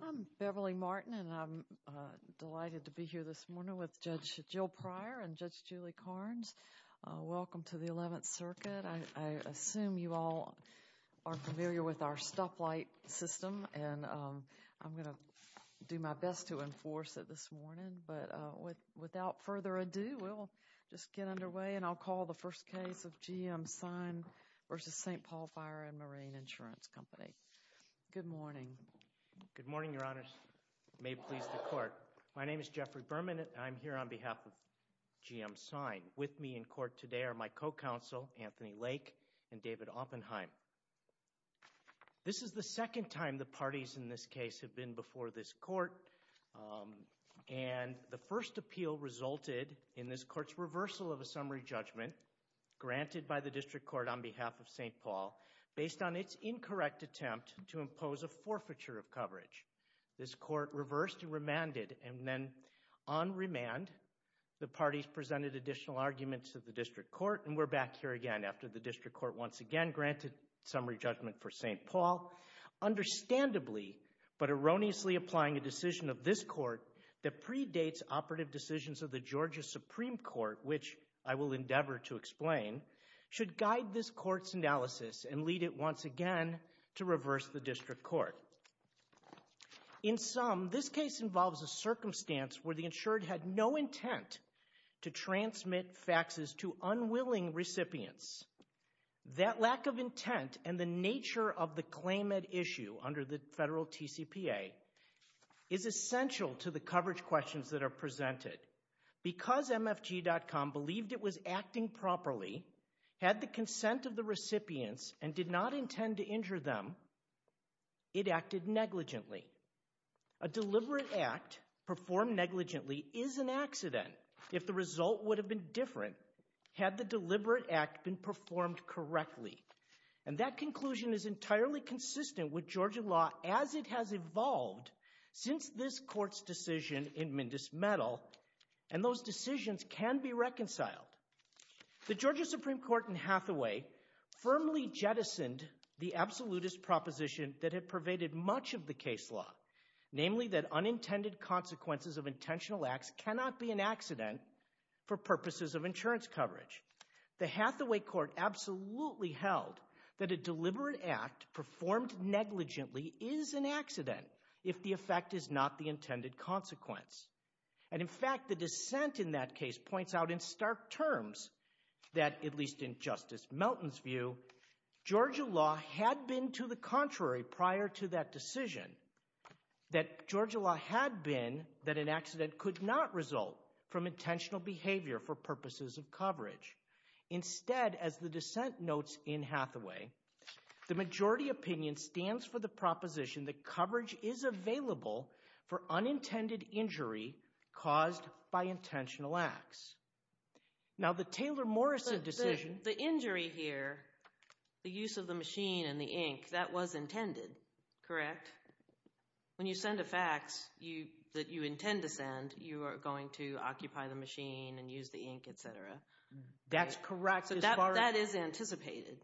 I'm Beverly Martin, and I'm delighted to be here this morning with Judge Jill Pryor and Judge Julie Carnes. Welcome to the Eleventh Circuit. I assume you all are familiar with our stoplight system, and I'm going to do my best to enforce it this morning, but without further ado, we'll just get underway, and I'll call the first case of G.M. Sign v. St. Paul Fire & Marine Insurance Company. Good morning. Good morning, Your Honors. It may please the Court. My name is Jeffrey Berman, and I'm here on behalf of G.M. Sign. With me in court today are my co-counsel, Anthony Lake, and David Oppenheim. This is the second time the parties in this case have been before this Court, and the first appeal resulted in this Court's reversal of a summary judgment granted by the District Court on behalf of St. Paul based on its incorrect attempt to impose a forfeiture of coverage. This Court reversed and remanded, and then on remand, the parties presented additional arguments to the District Court, and we're back here again after the District Court once again granted summary judgment for St. Paul, understandably but erroneously applying a decision of this Court that predates operative decisions of the Georgia Supreme Court, which I will endeavor to explain, should guide this Court's analysis and lead it once again to reverse the District Court. In sum, this case involves a circumstance where the insured had no intent to transmit faxes to unwilling recipients. That lack of intent and the nature of the claim at issue under the federal TCPA is essential to the coverage questions that are presented. Because MFG.com believed it was acting properly, had the consent of the recipients, and did not intend to injure them, it acted negligently. A deliberate act performed negligently is an accident if the result would have been different had the deliberate act been performed correctly. And that conclusion is entirely consistent with Georgia law as it has evolved since this And those decisions can be reconciled. The Georgia Supreme Court in Hathaway firmly jettisoned the absolutist proposition that had pervaded much of the case law, namely that unintended consequences of intentional acts cannot be an accident for purposes of insurance coverage. The Hathaway Court absolutely held that a deliberate act performed negligently is an accident if the effect is not the intended consequence. And in fact, the dissent in that case points out in stark terms that, at least in Justice Melton's view, Georgia law had been to the contrary prior to that decision, that Georgia law had been that an accident could not result from intentional behavior for purposes of coverage. Instead, as the dissent notes in Hathaway, the majority opinion stands for the proposition that coverage is available for unintended injury caused by intentional acts. Now the Taylor-Morrison decision... The injury here, the use of the machine and the ink, that was intended, correct? When you send a fax that you intend to send, you are going to occupy the machine and use the ink, etc. That's correct. So that is anticipated.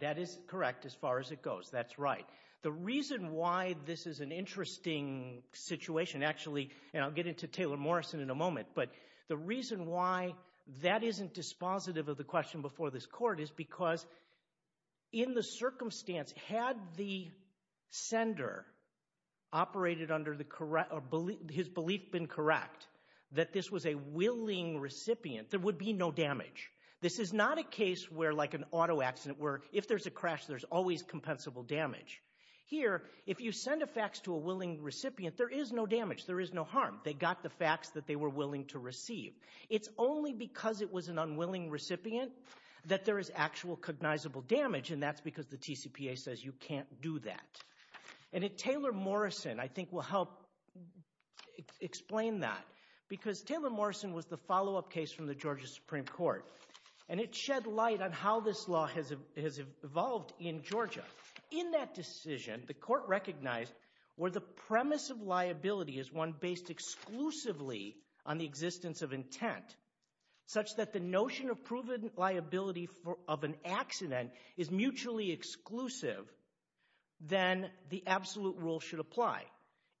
That is correct as far as it goes. That's right. The reason why this is an interesting situation, actually, and I'll get into Taylor-Morrison in a moment, but the reason why that isn't dispositive of the question before this Court is because in the circumstance, had the sender operated under his belief been correct, that this was a willing recipient, there would be no damage. This is not a case where, like an auto accident, where if there's a crash, there's always compensable damage. Here, if you send a fax to a willing recipient, there is no damage. There is no harm. They got the fax that they were willing to receive. It's only because it was an unwilling recipient that there is actual cognizable damage, and that's because the TCPA says you can't do that. And Taylor-Morrison, I think, will help explain that, because Taylor-Morrison was the follow-up case from the Georgia Supreme Court, and it shed light on how this law has evolved in In that decision, the Court recognized where the premise of liability is one based exclusively on the existence of intent, such that the notion of proven liability of an accident is mutually exclusive, then the absolute rule should apply.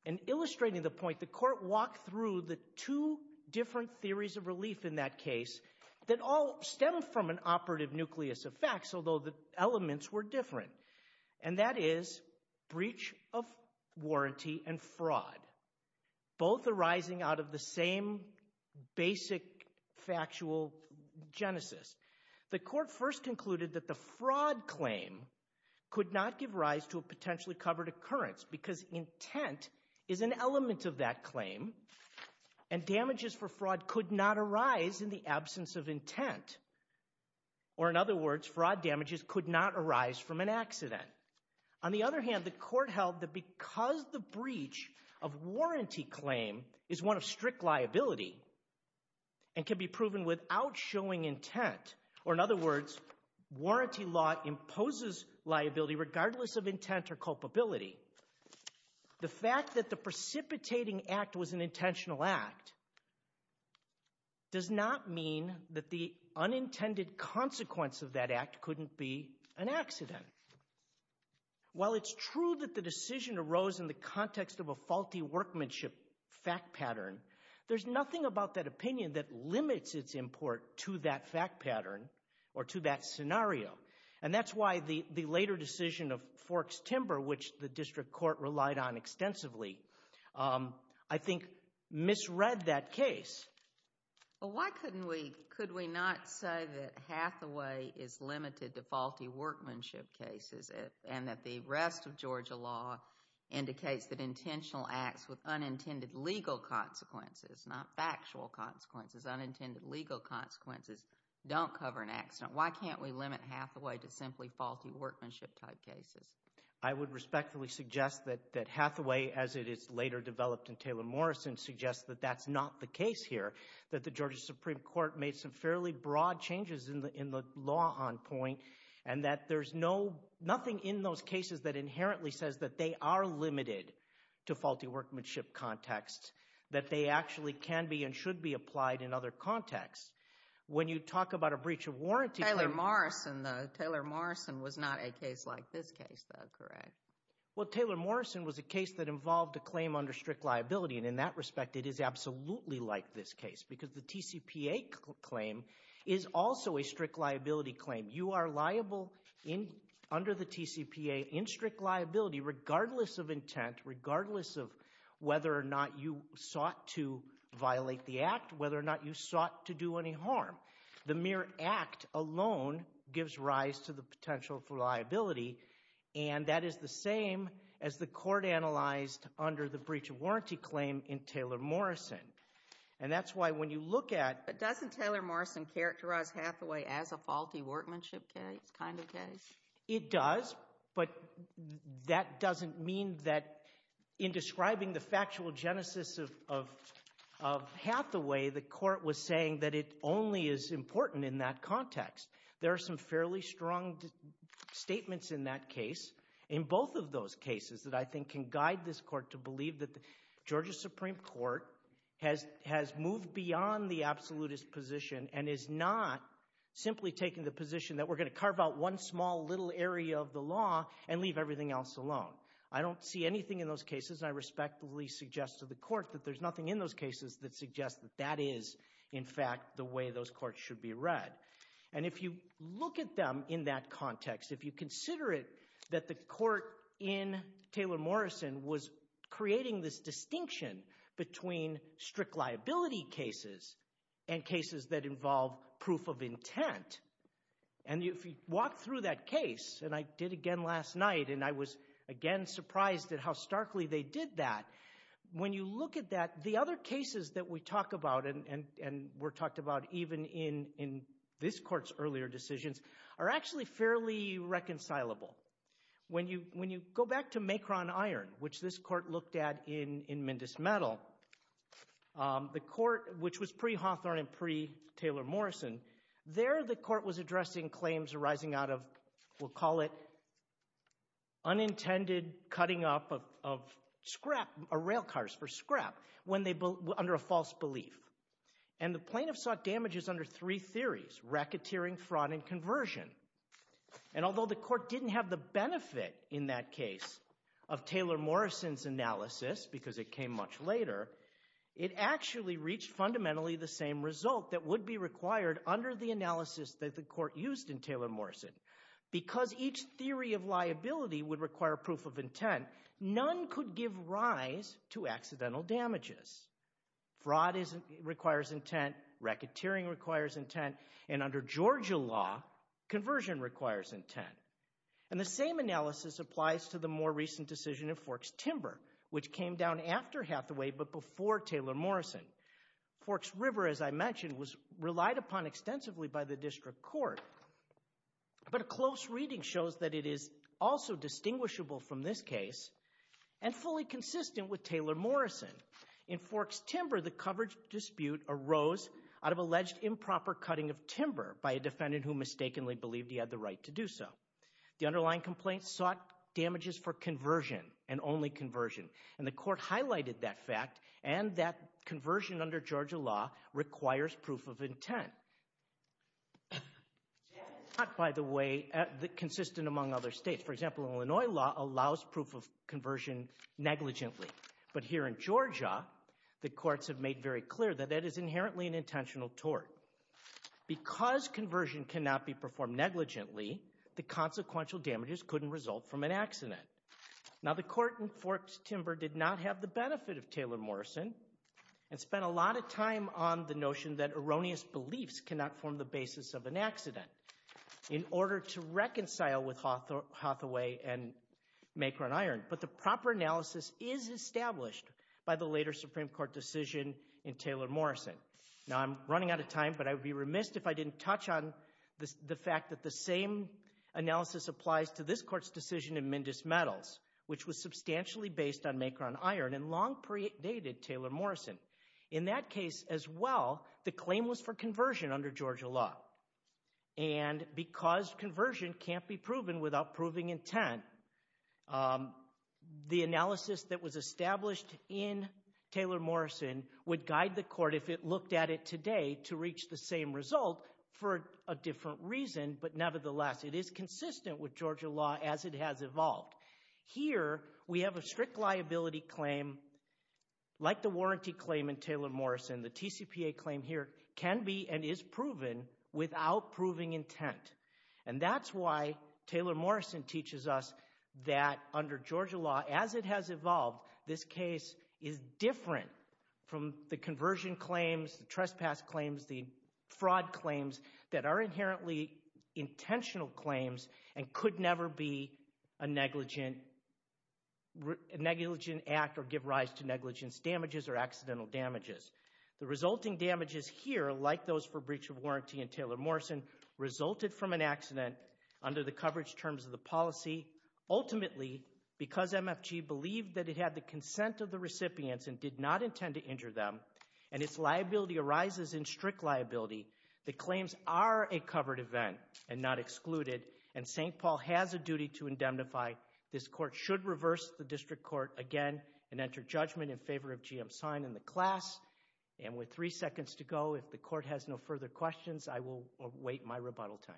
And illustrating the point, the Court walked through the two different theories of relief in that case that all stem from an operative nucleus of facts, although the elements were different, and that is breach of warranty and fraud, both arising out of the same basic factual genesis. The Court first concluded that the fraud claim could not give rise to a potentially covered occurrence because intent is an element of that claim, and damages for fraud could not arise in the absence of intent. Or, in other words, fraud damages could not arise from an accident. On the other hand, the Court held that because the breach of warranty claim is one of strict liability and can be proven without showing intent, or in other words, warranty law imposes liability regardless of intent or culpability, the fact that the precipitating act was an unintended consequence of that act couldn't be an accident. While it's true that the decision arose in the context of a faulty workmanship fact pattern, there's nothing about that opinion that limits its import to that fact pattern or to that scenario, and that's why the later decision of Forks Timber, which the District Court relied on extensively, I think misread that case. Well, why couldn't we, could we not say that Hathaway is limited to faulty workmanship cases and that the rest of Georgia law indicates that intentional acts with unintended legal consequences, not factual consequences, unintended legal consequences don't cover an accident? Why can't we limit Hathaway to simply faulty workmanship type cases? I would respectfully suggest that Hathaway, as it is later developed in Taylor-Morrison, suggests that that's not the case here, that the Georgia Supreme Court made some fairly broad changes in the law on point, and that there's no, nothing in those cases that inherently says that they are limited to faulty workmanship context, that they actually can be and should be applied in other contexts. When you talk about a breach of warranty- Taylor-Morrison, the Taylor-Morrison was not a case like this case, though, correct? Well, Taylor-Morrison was a case that involved a claim under strict liability, and in that respect, it is absolutely like this case, because the TCPA claim is also a strict liability claim. You are liable under the TCPA in strict liability, regardless of intent, regardless of whether or not you sought to violate the act, whether or not you sought to do any harm. The mere act alone gives rise to the potential for liability, and that is the same as the breach of warranty claim in Taylor-Morrison. And that's why, when you look at- But doesn't Taylor-Morrison characterize Hathaway as a faulty workmanship case, kind of case? It does, but that doesn't mean that, in describing the factual genesis of Hathaway, the Court was saying that it only is important in that context. There are some fairly strong statements in that case, in both of those cases, that I think Georgia's Supreme Court has moved beyond the absolutist position and is not simply taking the position that we're going to carve out one small little area of the law and leave everything else alone. I don't see anything in those cases, and I respectfully suggest to the Court that there's nothing in those cases that suggests that that is, in fact, the way those courts should be read. And if you look at them in that context, if you consider it that the Court in Taylor-Morrison was creating this distinction between strict liability cases and cases that involve proof of intent, and if you walk through that case, and I did again last night, and I was again surprised at how starkly they did that, when you look at that, the other cases that we talk about, and were talked about even in this Court's earlier decisions, are actually fairly reconcilable. When you go back to Macron-Iron, which this Court looked at in Mindus-Meadow, the Court, which was pre-Hawthorne and pre-Taylor-Morrison, there the Court was addressing claims arising out of, we'll call it, unintended cutting up of scrap, of rail cars for scrap, under a false belief. And the plaintiff sought damages under three theories, racketeering, fraud, and conversion. And although the Court didn't have the benefit in that case of Taylor-Morrison's analysis, because it came much later, it actually reached fundamentally the same result that would be required under the analysis that the Court used in Taylor-Morrison. Because each theory of liability would require proof of intent, none could give rise to accidental damages. Fraud requires intent, racketeering requires intent, and under Georgia law, conversion requires intent. And the same analysis applies to the more recent decision of Forks-Timber, which came down after Hathaway but before Taylor-Morrison. Forks-River, as I mentioned, was relied upon extensively by the District Court, but a close reading shows that it is also distinguishable from this case and fully consistent with Taylor-Morrison. In Forks-Timber, the coverage dispute arose out of alleged improper cutting of timber by a defendant who mistakenly believed he had the right to do so. The underlying complaint sought damages for conversion, and only conversion, and the Court highlighted that fact, and that conversion under Georgia law requires proof of intent. It's not, by the way, consistent among other states. For example, Illinois law allows proof of conversion negligently. But here in Georgia, the courts have made very clear that that is inherently an intentional tort. Because conversion cannot be performed negligently, the consequential damages couldn't result from an accident. Now, the Court in Forks-Timber did not have the benefit of Taylor-Morrison and spent a lot of time on the notion that erroneous beliefs cannot form the basis of an accident in order to reconcile with Hathaway and Macron-Iron, but the proper analysis is established by the later Supreme Court decision in Taylor-Morrison. Now, I'm running out of time, but I would be remiss if I didn't touch on the fact that the same analysis applies to this Court's decision in Mendes-Metals, which was substantially based on Macron-Iron and long predated Taylor-Morrison. In that case as well, the claim was for conversion under Georgia law. And because conversion can't be proven without proving intent, the analysis that was established in Taylor-Morrison would guide the Court if it looked at it today to reach the same result for a different reason, but nevertheless, it is consistent with Georgia law as it has evolved. Here, we have a strict liability claim like the warranty claim in Taylor-Morrison. The TCPA claim here can be and is proven without proving intent. And that's why Taylor-Morrison teaches us that under Georgia law, as it has evolved, this case is different from the conversion claims, the trespass claims, the fraud claims that are inherently intentional claims and could never be a negligent act or give rise to negligence damages or accidental damages. The resulting damages here, like those for breach of warranty in Taylor-Morrison, resulted from an accident under the coverage terms of the policy, ultimately because MFG believed that it had the consent of the recipients and did not intend to injure them, and its liability arises in strict liability, the claims are a covered event and not excluded, and St. Paul has a duty to indemnify. This court should reverse the district court again and enter judgment in favor of GM Sine in the class. And with three seconds to go, if the court has no further questions, I will await my rebuttal time.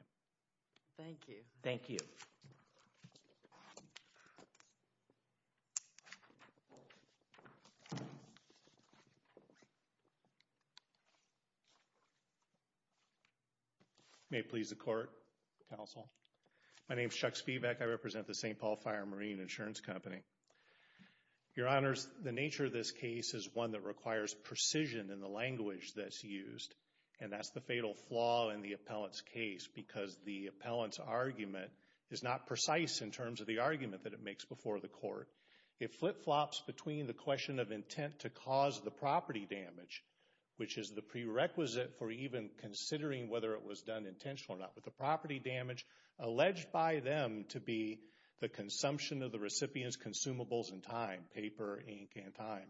Thank you. Thank you. May it please the court, counsel, my name is Chuck Spivak, I represent the St. Paul Fire Marine Insurance Company. Your honors, the nature of this case is one that requires precision in the language that's used, and that's the fatal flaw in the appellant's case, because the appellant's argument is not precise in terms of the argument that it makes before the court. It flip-flops between the question of intent to cause the property damage, which is the prerequisite for even considering whether it was done intentionally or not, but the consumption of the recipient's consumables and time, paper, ink, and time.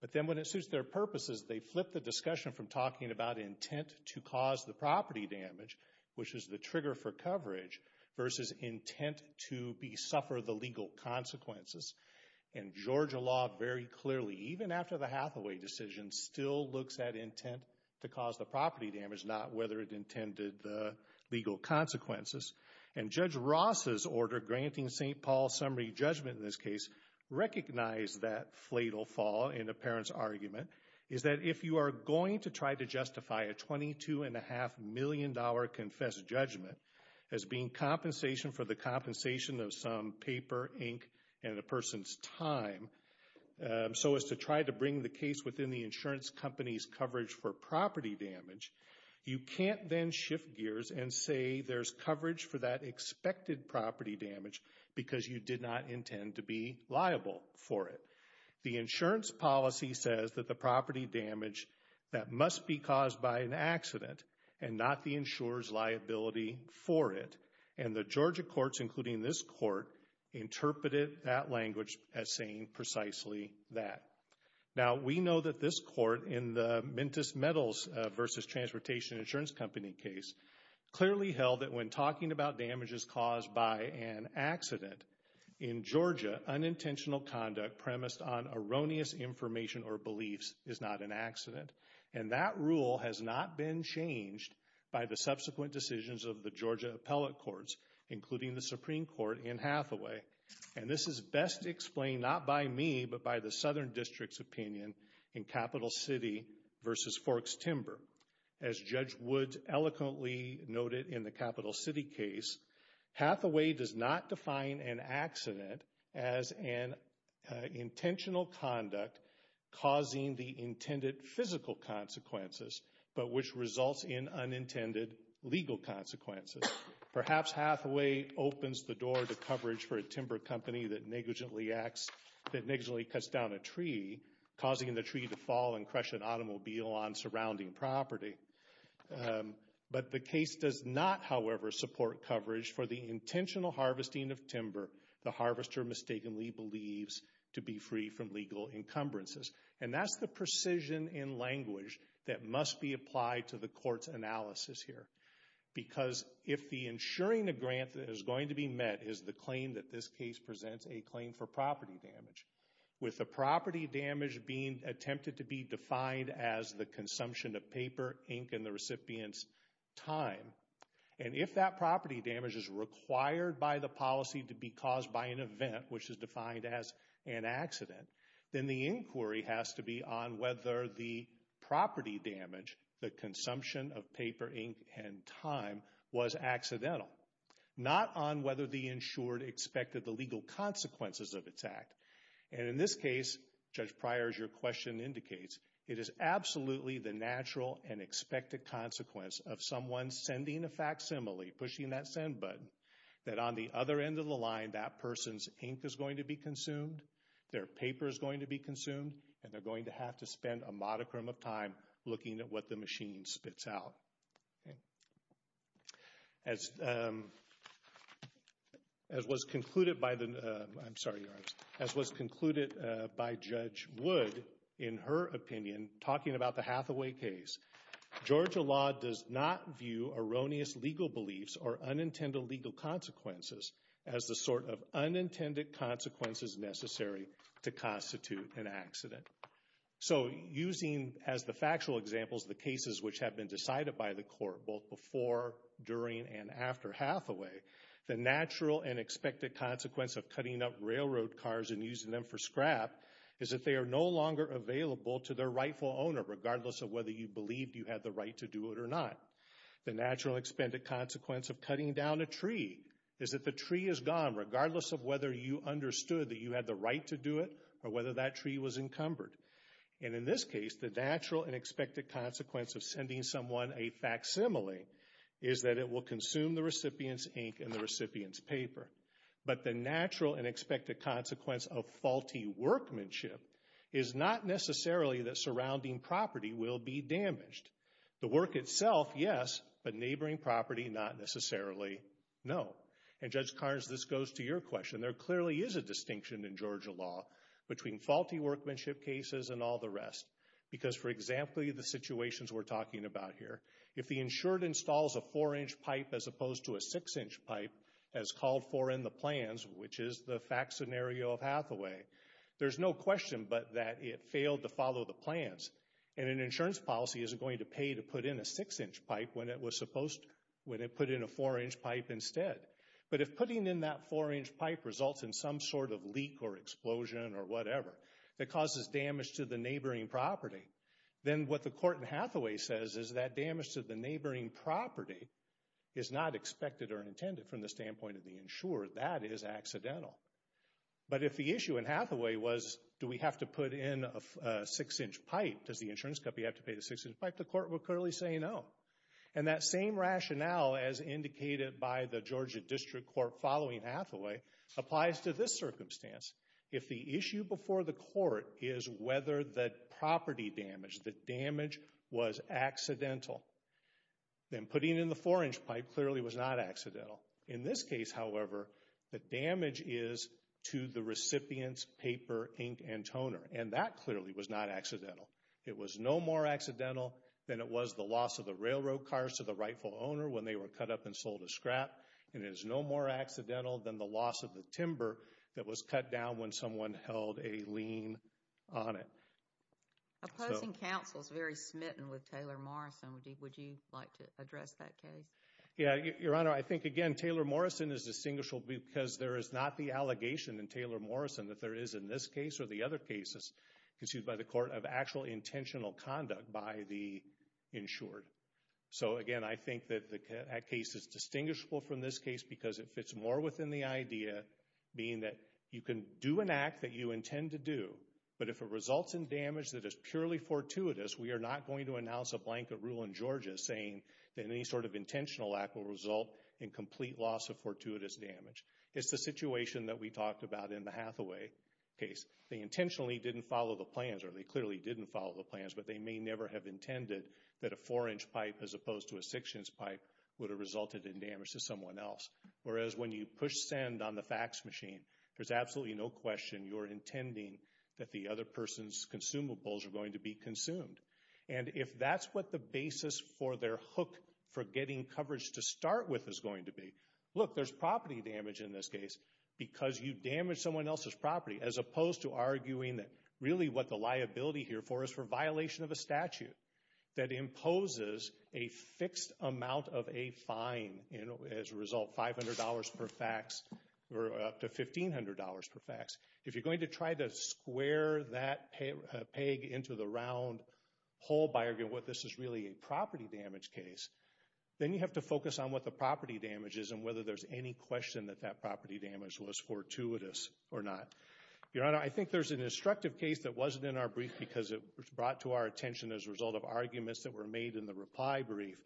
But then when it suits their purposes, they flip the discussion from talking about intent to cause the property damage, which is the trigger for coverage, versus intent to suffer the legal consequences. And Georgia law very clearly, even after the Hathaway decision, still looks at intent to cause the property damage, not whether it intended the legal consequences. And Judge Ross' order granting St. Paul summary judgment in this case recognized that fatal flaw in the appellant's argument, is that if you are going to try to justify a $22.5 million confessed judgment as being compensation for the compensation of some paper, ink, and a person's time, so as to try to bring the case within the insurance company's coverage for property damage, you can't then shift gears and say there's coverage for that expected property damage because you did not intend to be liable for it. The insurance policy says that the property damage, that must be caused by an accident and not the insurer's liability for it. And the Georgia courts, including this court, interpreted that language as saying precisely that. Now, we know that this court in the Mentis Metals versus Transportation Insurance Company case clearly held that when talking about damages caused by an accident, in Georgia unintentional conduct premised on erroneous information or beliefs is not an accident. And that rule has not been changed by the subsequent decisions of the Georgia appellate courts, including the Supreme Court in Hathaway. And this is best explained not by me, but by the Southern District's opinion in Capital City versus Forks Timber. As Judge Woods eloquently noted in the Capital City case, Hathaway does not define an accident as an intentional conduct causing the intended physical consequences, but which results in unintended legal consequences. Perhaps Hathaway opens the door to coverage for a timber company that negligently cuts down a tree, causing the tree to fall and crush an automobile on surrounding property. But the case does not, however, support coverage for the intentional harvesting of timber the harvester mistakenly believes to be free from legal encumbrances. And that's the precision in language that must be applied to the court's analysis here. Because if the insuring a grant that is going to be met is the claim that this case presents a claim for property damage, with the property damage being attempted to be defined as the consumption of paper, ink, and the recipient's time, and if that property damage is required by the policy to be caused by an event, which is defined as an accident, then the inquiry has to be on whether the property damage, the consumption of paper, ink, and time, was accidental, not on whether the insured expected the legal consequences of its act. And in this case, Judge Pryor, as your question indicates, it is absolutely the natural and expected consequence of someone sending a facsimile, pushing that send button, that on the other end of the line that person's ink is going to be consumed, their paper is going to be consumed, and they're going to have to spend a modicum of time looking at what the machine spits out. As was concluded by the, I'm sorry, as was concluded by Judge Wood in her opinion, talking about the Hathaway case, Georgia law does not view erroneous legal beliefs or unintended legal consequences as the sort of unintended consequences necessary to constitute an accident. So using as the factual examples the cases which have been decided by the court, both before, during, and after Hathaway, the natural and expected consequence of cutting up railroad cars and using them for scrap is that they are no longer available to their rightful owner, regardless of whether you believed you had the right to do it or not. The natural and expected consequence of cutting down a tree is that the tree is gone, regardless of whether you understood that you had the right to do it or whether that tree was encumbered. And in this case, the natural and expected consequence of sending someone a facsimile is that it will consume the recipient's ink and the recipient's paper. But the natural and expected consequence of faulty workmanship is not necessarily that surrounding property will be damaged. The work itself, yes, but neighboring property, not necessarily, no. And Judge Carnes, this goes to your question. There clearly is a distinction in Georgia law between faulty workmanship cases and all the rest. Because for example, the situations we're talking about here, if the insured installs a four-inch pipe as opposed to a six-inch pipe, as called for in the plans, which is the fact scenario of Hathaway, there's no question but that it failed to follow the plans. And an insurance policy isn't going to pay to put in a six-inch pipe when it was supposed to, when it put in a four-inch pipe instead. But if putting in that four-inch pipe results in some sort of leak or explosion or whatever that causes damage to the neighboring property, then what the court in Hathaway says is that damage to the neighboring property is not expected or intended from the standpoint of the insured. That is accidental. But if the issue in Hathaway was, do we have to put in a six-inch pipe, does the insurance company have to pay the six-inch pipe, the court would clearly say no. And that same rationale as indicated by the Georgia District Court following Hathaway applies to this circumstance. If the issue before the court is whether the property damage, the damage was accidental, then putting in the four-inch pipe clearly was not accidental. In this case, however, the damage is to the recipient's paper, ink, and toner. And that clearly was not accidental. It was no more accidental than it was the loss of the railroad cars to the rightful owner when they were cut up and sold as scrap. And it is no more accidental than the loss of the timber that was cut down when someone held a lien on it. Opposing counsel is very smitten with Taylor Morrison. Would you like to address that case? Yeah, Your Honor, I think, again, Taylor Morrison is distinguishable because there is not the allegation in Taylor Morrison that there is in this case or the other cases conceived by the court of actual intentional conduct by the insured. So again, I think that that case is distinguishable from this case because it fits more within the idea being that you can do an act that you intend to do, but if it results in damage that is purely fortuitous, we are not going to announce a blanket rule in Georgia saying that any sort of intentional act will result in complete loss of fortuitous damage. It's the situation that we talked about in the Hathaway case. They intentionally didn't follow the plans or they clearly didn't follow the plans, but they may never have intended that a four-inch pipe as opposed to a six-inch pipe would have resulted in damage to someone else. Whereas when you push send on the fax machine, there's absolutely no question you're intending that the other person's consumables are going to be consumed. And if that's what the basis for their hook for getting coverage to start with is going to be, look, there's property damage in this case because you damaged someone else's property as opposed to arguing that really what the liability here for is for violation of a statute that imposes a fixed amount of a fine as a result, $500 per fax or up to $1,500 per fax. If you're going to try to square that peg into the round hole by arguing what this is really a property damage case, then you have to focus on what the property damage is and whether there's any question that that property damage was fortuitous or not. Your Honor, I think there's an instructive case that wasn't in our brief because it was brought to our attention as a result of arguments that were made in the reply brief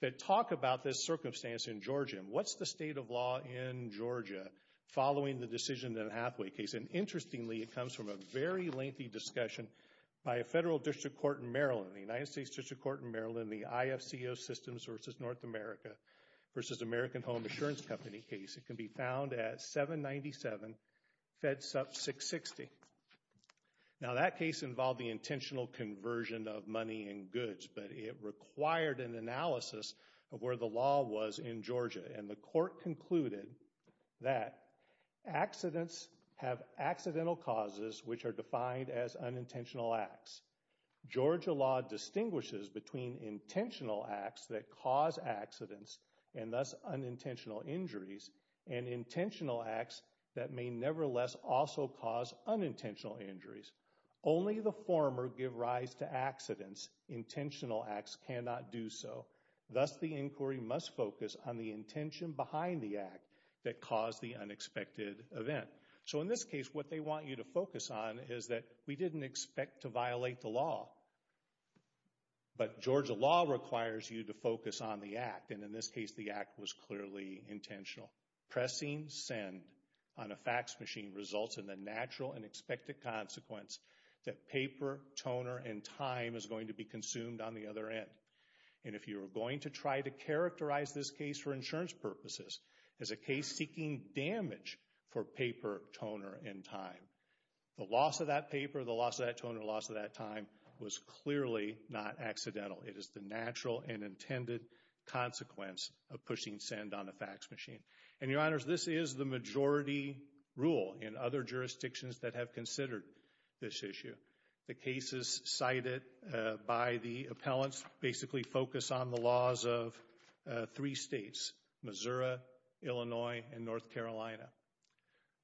that talk about this circumstance in Georgia. What's the state of law in Georgia following the decision in the Hathaway case? And interestingly, it comes from a very lengthy discussion by a federal district court in Maryland, the United States District Court in Maryland, the IFCO Systems versus North America versus American Home Assurance Company case. It can be found at 797 FedSup 660. Now that case involved the intentional conversion of money and goods, but it required an analysis of where the law was in Georgia, and the court concluded that accidents have accidental causes, which are defined as unintentional acts. Georgia law distinguishes between intentional acts that cause accidents and thus unintentional injuries, and intentional acts that may nevertheless also cause unintentional injuries. Only the former give rise to accidents. Intentional acts cannot do so. Thus, the inquiry must focus on the intention behind the act that caused the unexpected event. So, in this case, what they want you to focus on is that we didn't expect to violate the law, but Georgia law requires you to focus on the act, and in this case, the act was clearly intentional. Pressing send on a fax machine results in the natural and expected consequence that paper, toner, and time is going to be consumed on the other end, and if you're going to try to characterize this case for insurance purposes as a case seeking damage for paper, toner, and time, the loss of that paper, the loss of that toner, the loss of that time was clearly not accidental. It is the natural and intended consequence of pushing send on a fax machine, and your The cases cited by the appellants basically focus on the laws of three states, Missouri, Illinois, and North Carolina,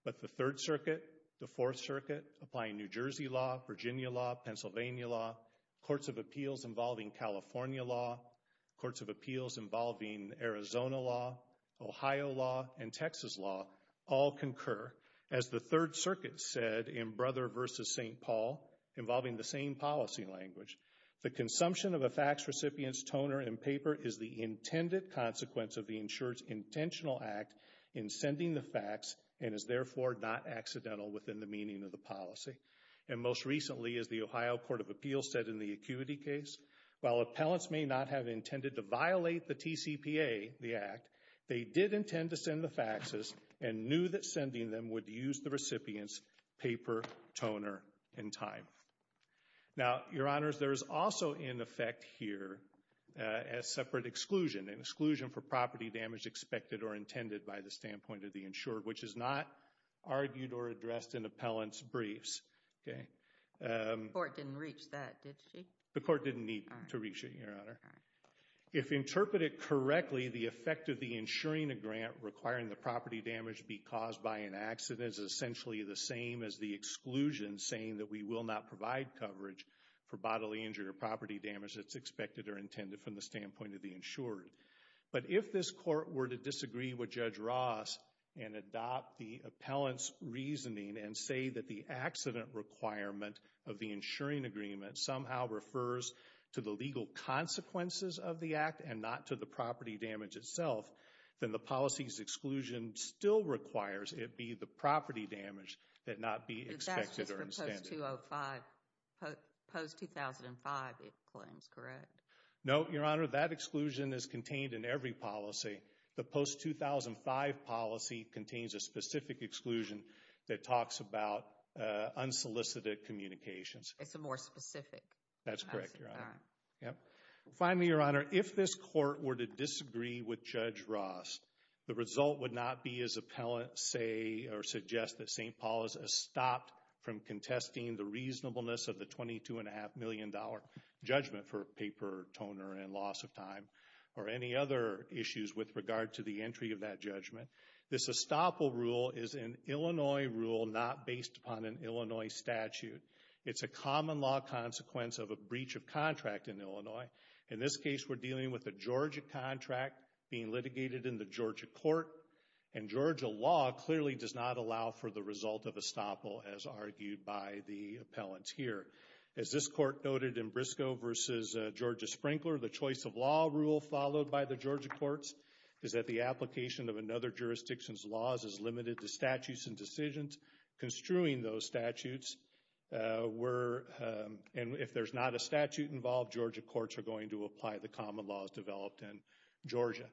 but the Third Circuit, the Fourth Circuit, applying New Jersey law, Virginia law, Pennsylvania law, courts of appeals involving California law, courts of appeals involving Arizona law, Ohio law, and Texas law all concur. As the Third Circuit said in Brother v. St. Paul, involving the same policy language, the consumption of a fax recipient's toner and paper is the intended consequence of the insurer's intentional act in sending the fax, and is therefore not accidental within the meaning of the policy. And most recently, as the Ohio Court of Appeals said in the acuity case, while appellants may not have intended to violate the TCPA, the act, they did intend to send the faxes and knew that sending them would use the recipient's paper, toner, and time. Now, Your Honors, there is also in effect here a separate exclusion, an exclusion for property damage expected or intended by the standpoint of the insurer, which is not argued or addressed in appellant's briefs. Okay? The court didn't reach that, did she? The court didn't need to reach it, Your Honor. If interpreted correctly, the effect of the insuring a grant requiring the property damage be caused by an accident is essentially the same as the exclusion saying that we will not provide coverage for bodily injury or property damage that's expected or intended from the standpoint of the insurer. But if this court were to disagree with Judge Ross and adopt the appellant's reasoning and say that the accident requirement of the insuring agreement somehow refers to the legal consequences of the act and not to the property damage itself, then the policy's exclusion still requires it be the property damage that not be expected or intended. But that's just for post-2005, post-2005 it claims, correct? No, Your Honor. That exclusion is contained in every policy. The post-2005 policy contains a specific exclusion that talks about unsolicited communications. That's correct, Your Honor. Yep. Finally, Your Honor, if this court were to disagree with Judge Ross, the result would not be his appellant say or suggest that St. Paul is stopped from contesting the reasonableness of the $22.5 million judgment for paper toner and loss of time or any other issues with regard to the entry of that judgment. This estoppel rule is an Illinois rule not based upon an Illinois statute. It's a common law consequence of a breach of contract in Illinois. In this case, we're dealing with a Georgia contract being litigated in the Georgia court and Georgia law clearly does not allow for the result of estoppel as argued by the appellant here. As this court noted in Briscoe v. Georgia Sprinkler, the choice of law rule followed by the Georgia courts is that the application of another jurisdiction's laws is limited to statutes and decisions construing those statutes and if there's not a statute involved, Georgia courts are going to apply the common laws developed in Georgia.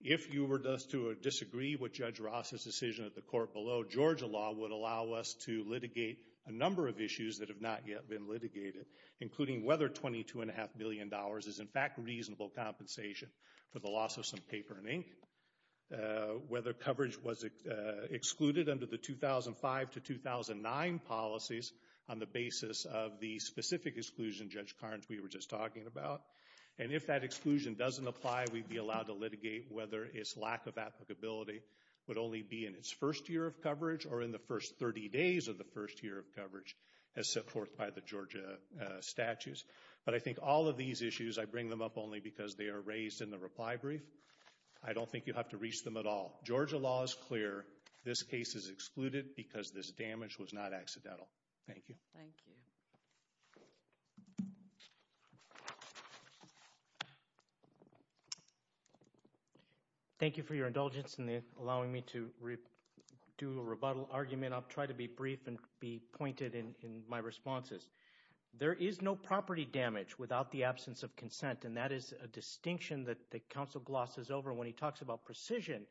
If you were to disagree with Judge Ross's decision at the court below, Georgia law would allow us to litigate a number of issues that have not yet been litigated, including whether $22.5 million is in fact reasonable compensation for the loss of some paper and ink, whether coverage was excluded under the 2005 to 2009 policies on the basis of the specific exclusion Judge Carnes we were just talking about. And if that exclusion doesn't apply, we'd be allowed to litigate whether its lack of applicability would only be in its first year of coverage or in the first 30 days of the first year of coverage as set forth by the Georgia statutes. But I think all of these issues, I bring them up only because they are raised in the reply brief. I don't think you have to reach them at all. Georgia law is clear. This case is excluded because this damage was not accidental. Thank you. Thank you. Thank you for your indulgence in allowing me to do a rebuttal argument. I'll try to be brief and be pointed in my responses. There is no property damage without the absence of consent and that is a distinction that when he talks about precision,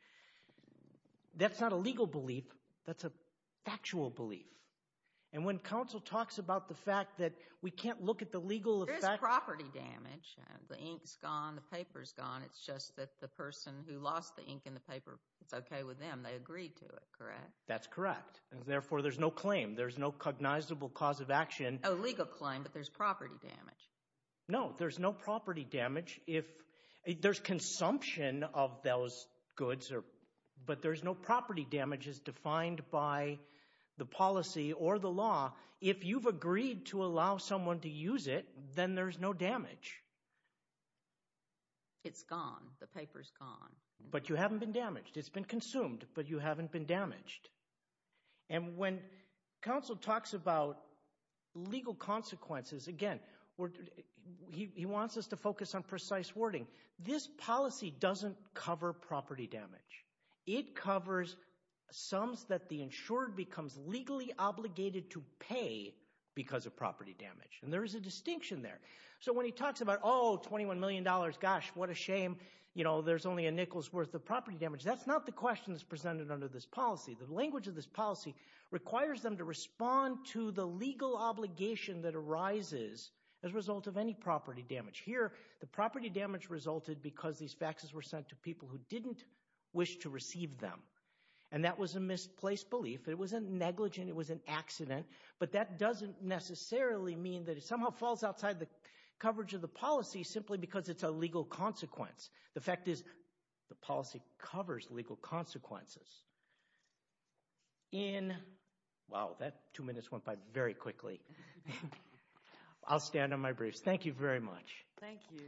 that's not a legal belief, that's a factual belief. And when counsel talks about the fact that we can't look at the legal effect. There is property damage. The ink's gone, the paper's gone, it's just that the person who lost the ink and the paper, it's okay with them, they agreed to it, correct? That's correct. And therefore there's no claim. There's no cognizable cause of action. Oh, legal claim, but there's property damage. No, there's no property damage. There's consumption of those goods, but there's no property damage as defined by the policy or the law. If you've agreed to allow someone to use it, then there's no damage. It's gone. The paper's gone. But you haven't been damaged. It's been consumed, but you haven't been damaged. And when counsel talks about legal consequences, again, he wants us to focus on precise wording. This policy doesn't cover property damage. It covers sums that the insured becomes legally obligated to pay because of property damage. And there is a distinction there. So when he talks about, oh, $21 million, gosh, what a shame, you know, there's only a nickel's worth of property damage. That's not the question that's presented under this policy. The language of this policy requires them to respond to the legal obligation that arises as a result of any property damage. Here, the property damage resulted because these faxes were sent to people who didn't wish to receive them. And that was a misplaced belief. It wasn't negligent. It was an accident. But that doesn't necessarily mean that it somehow falls outside the coverage of the policy simply because it's a legal consequence. The fact is, the policy covers legal consequences in, wow, that two minutes went by very quickly. I'll stand on my briefs. Thank you very much. Thank you.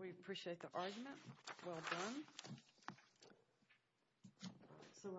We appreciate the argument. So we'll now move on to the next item.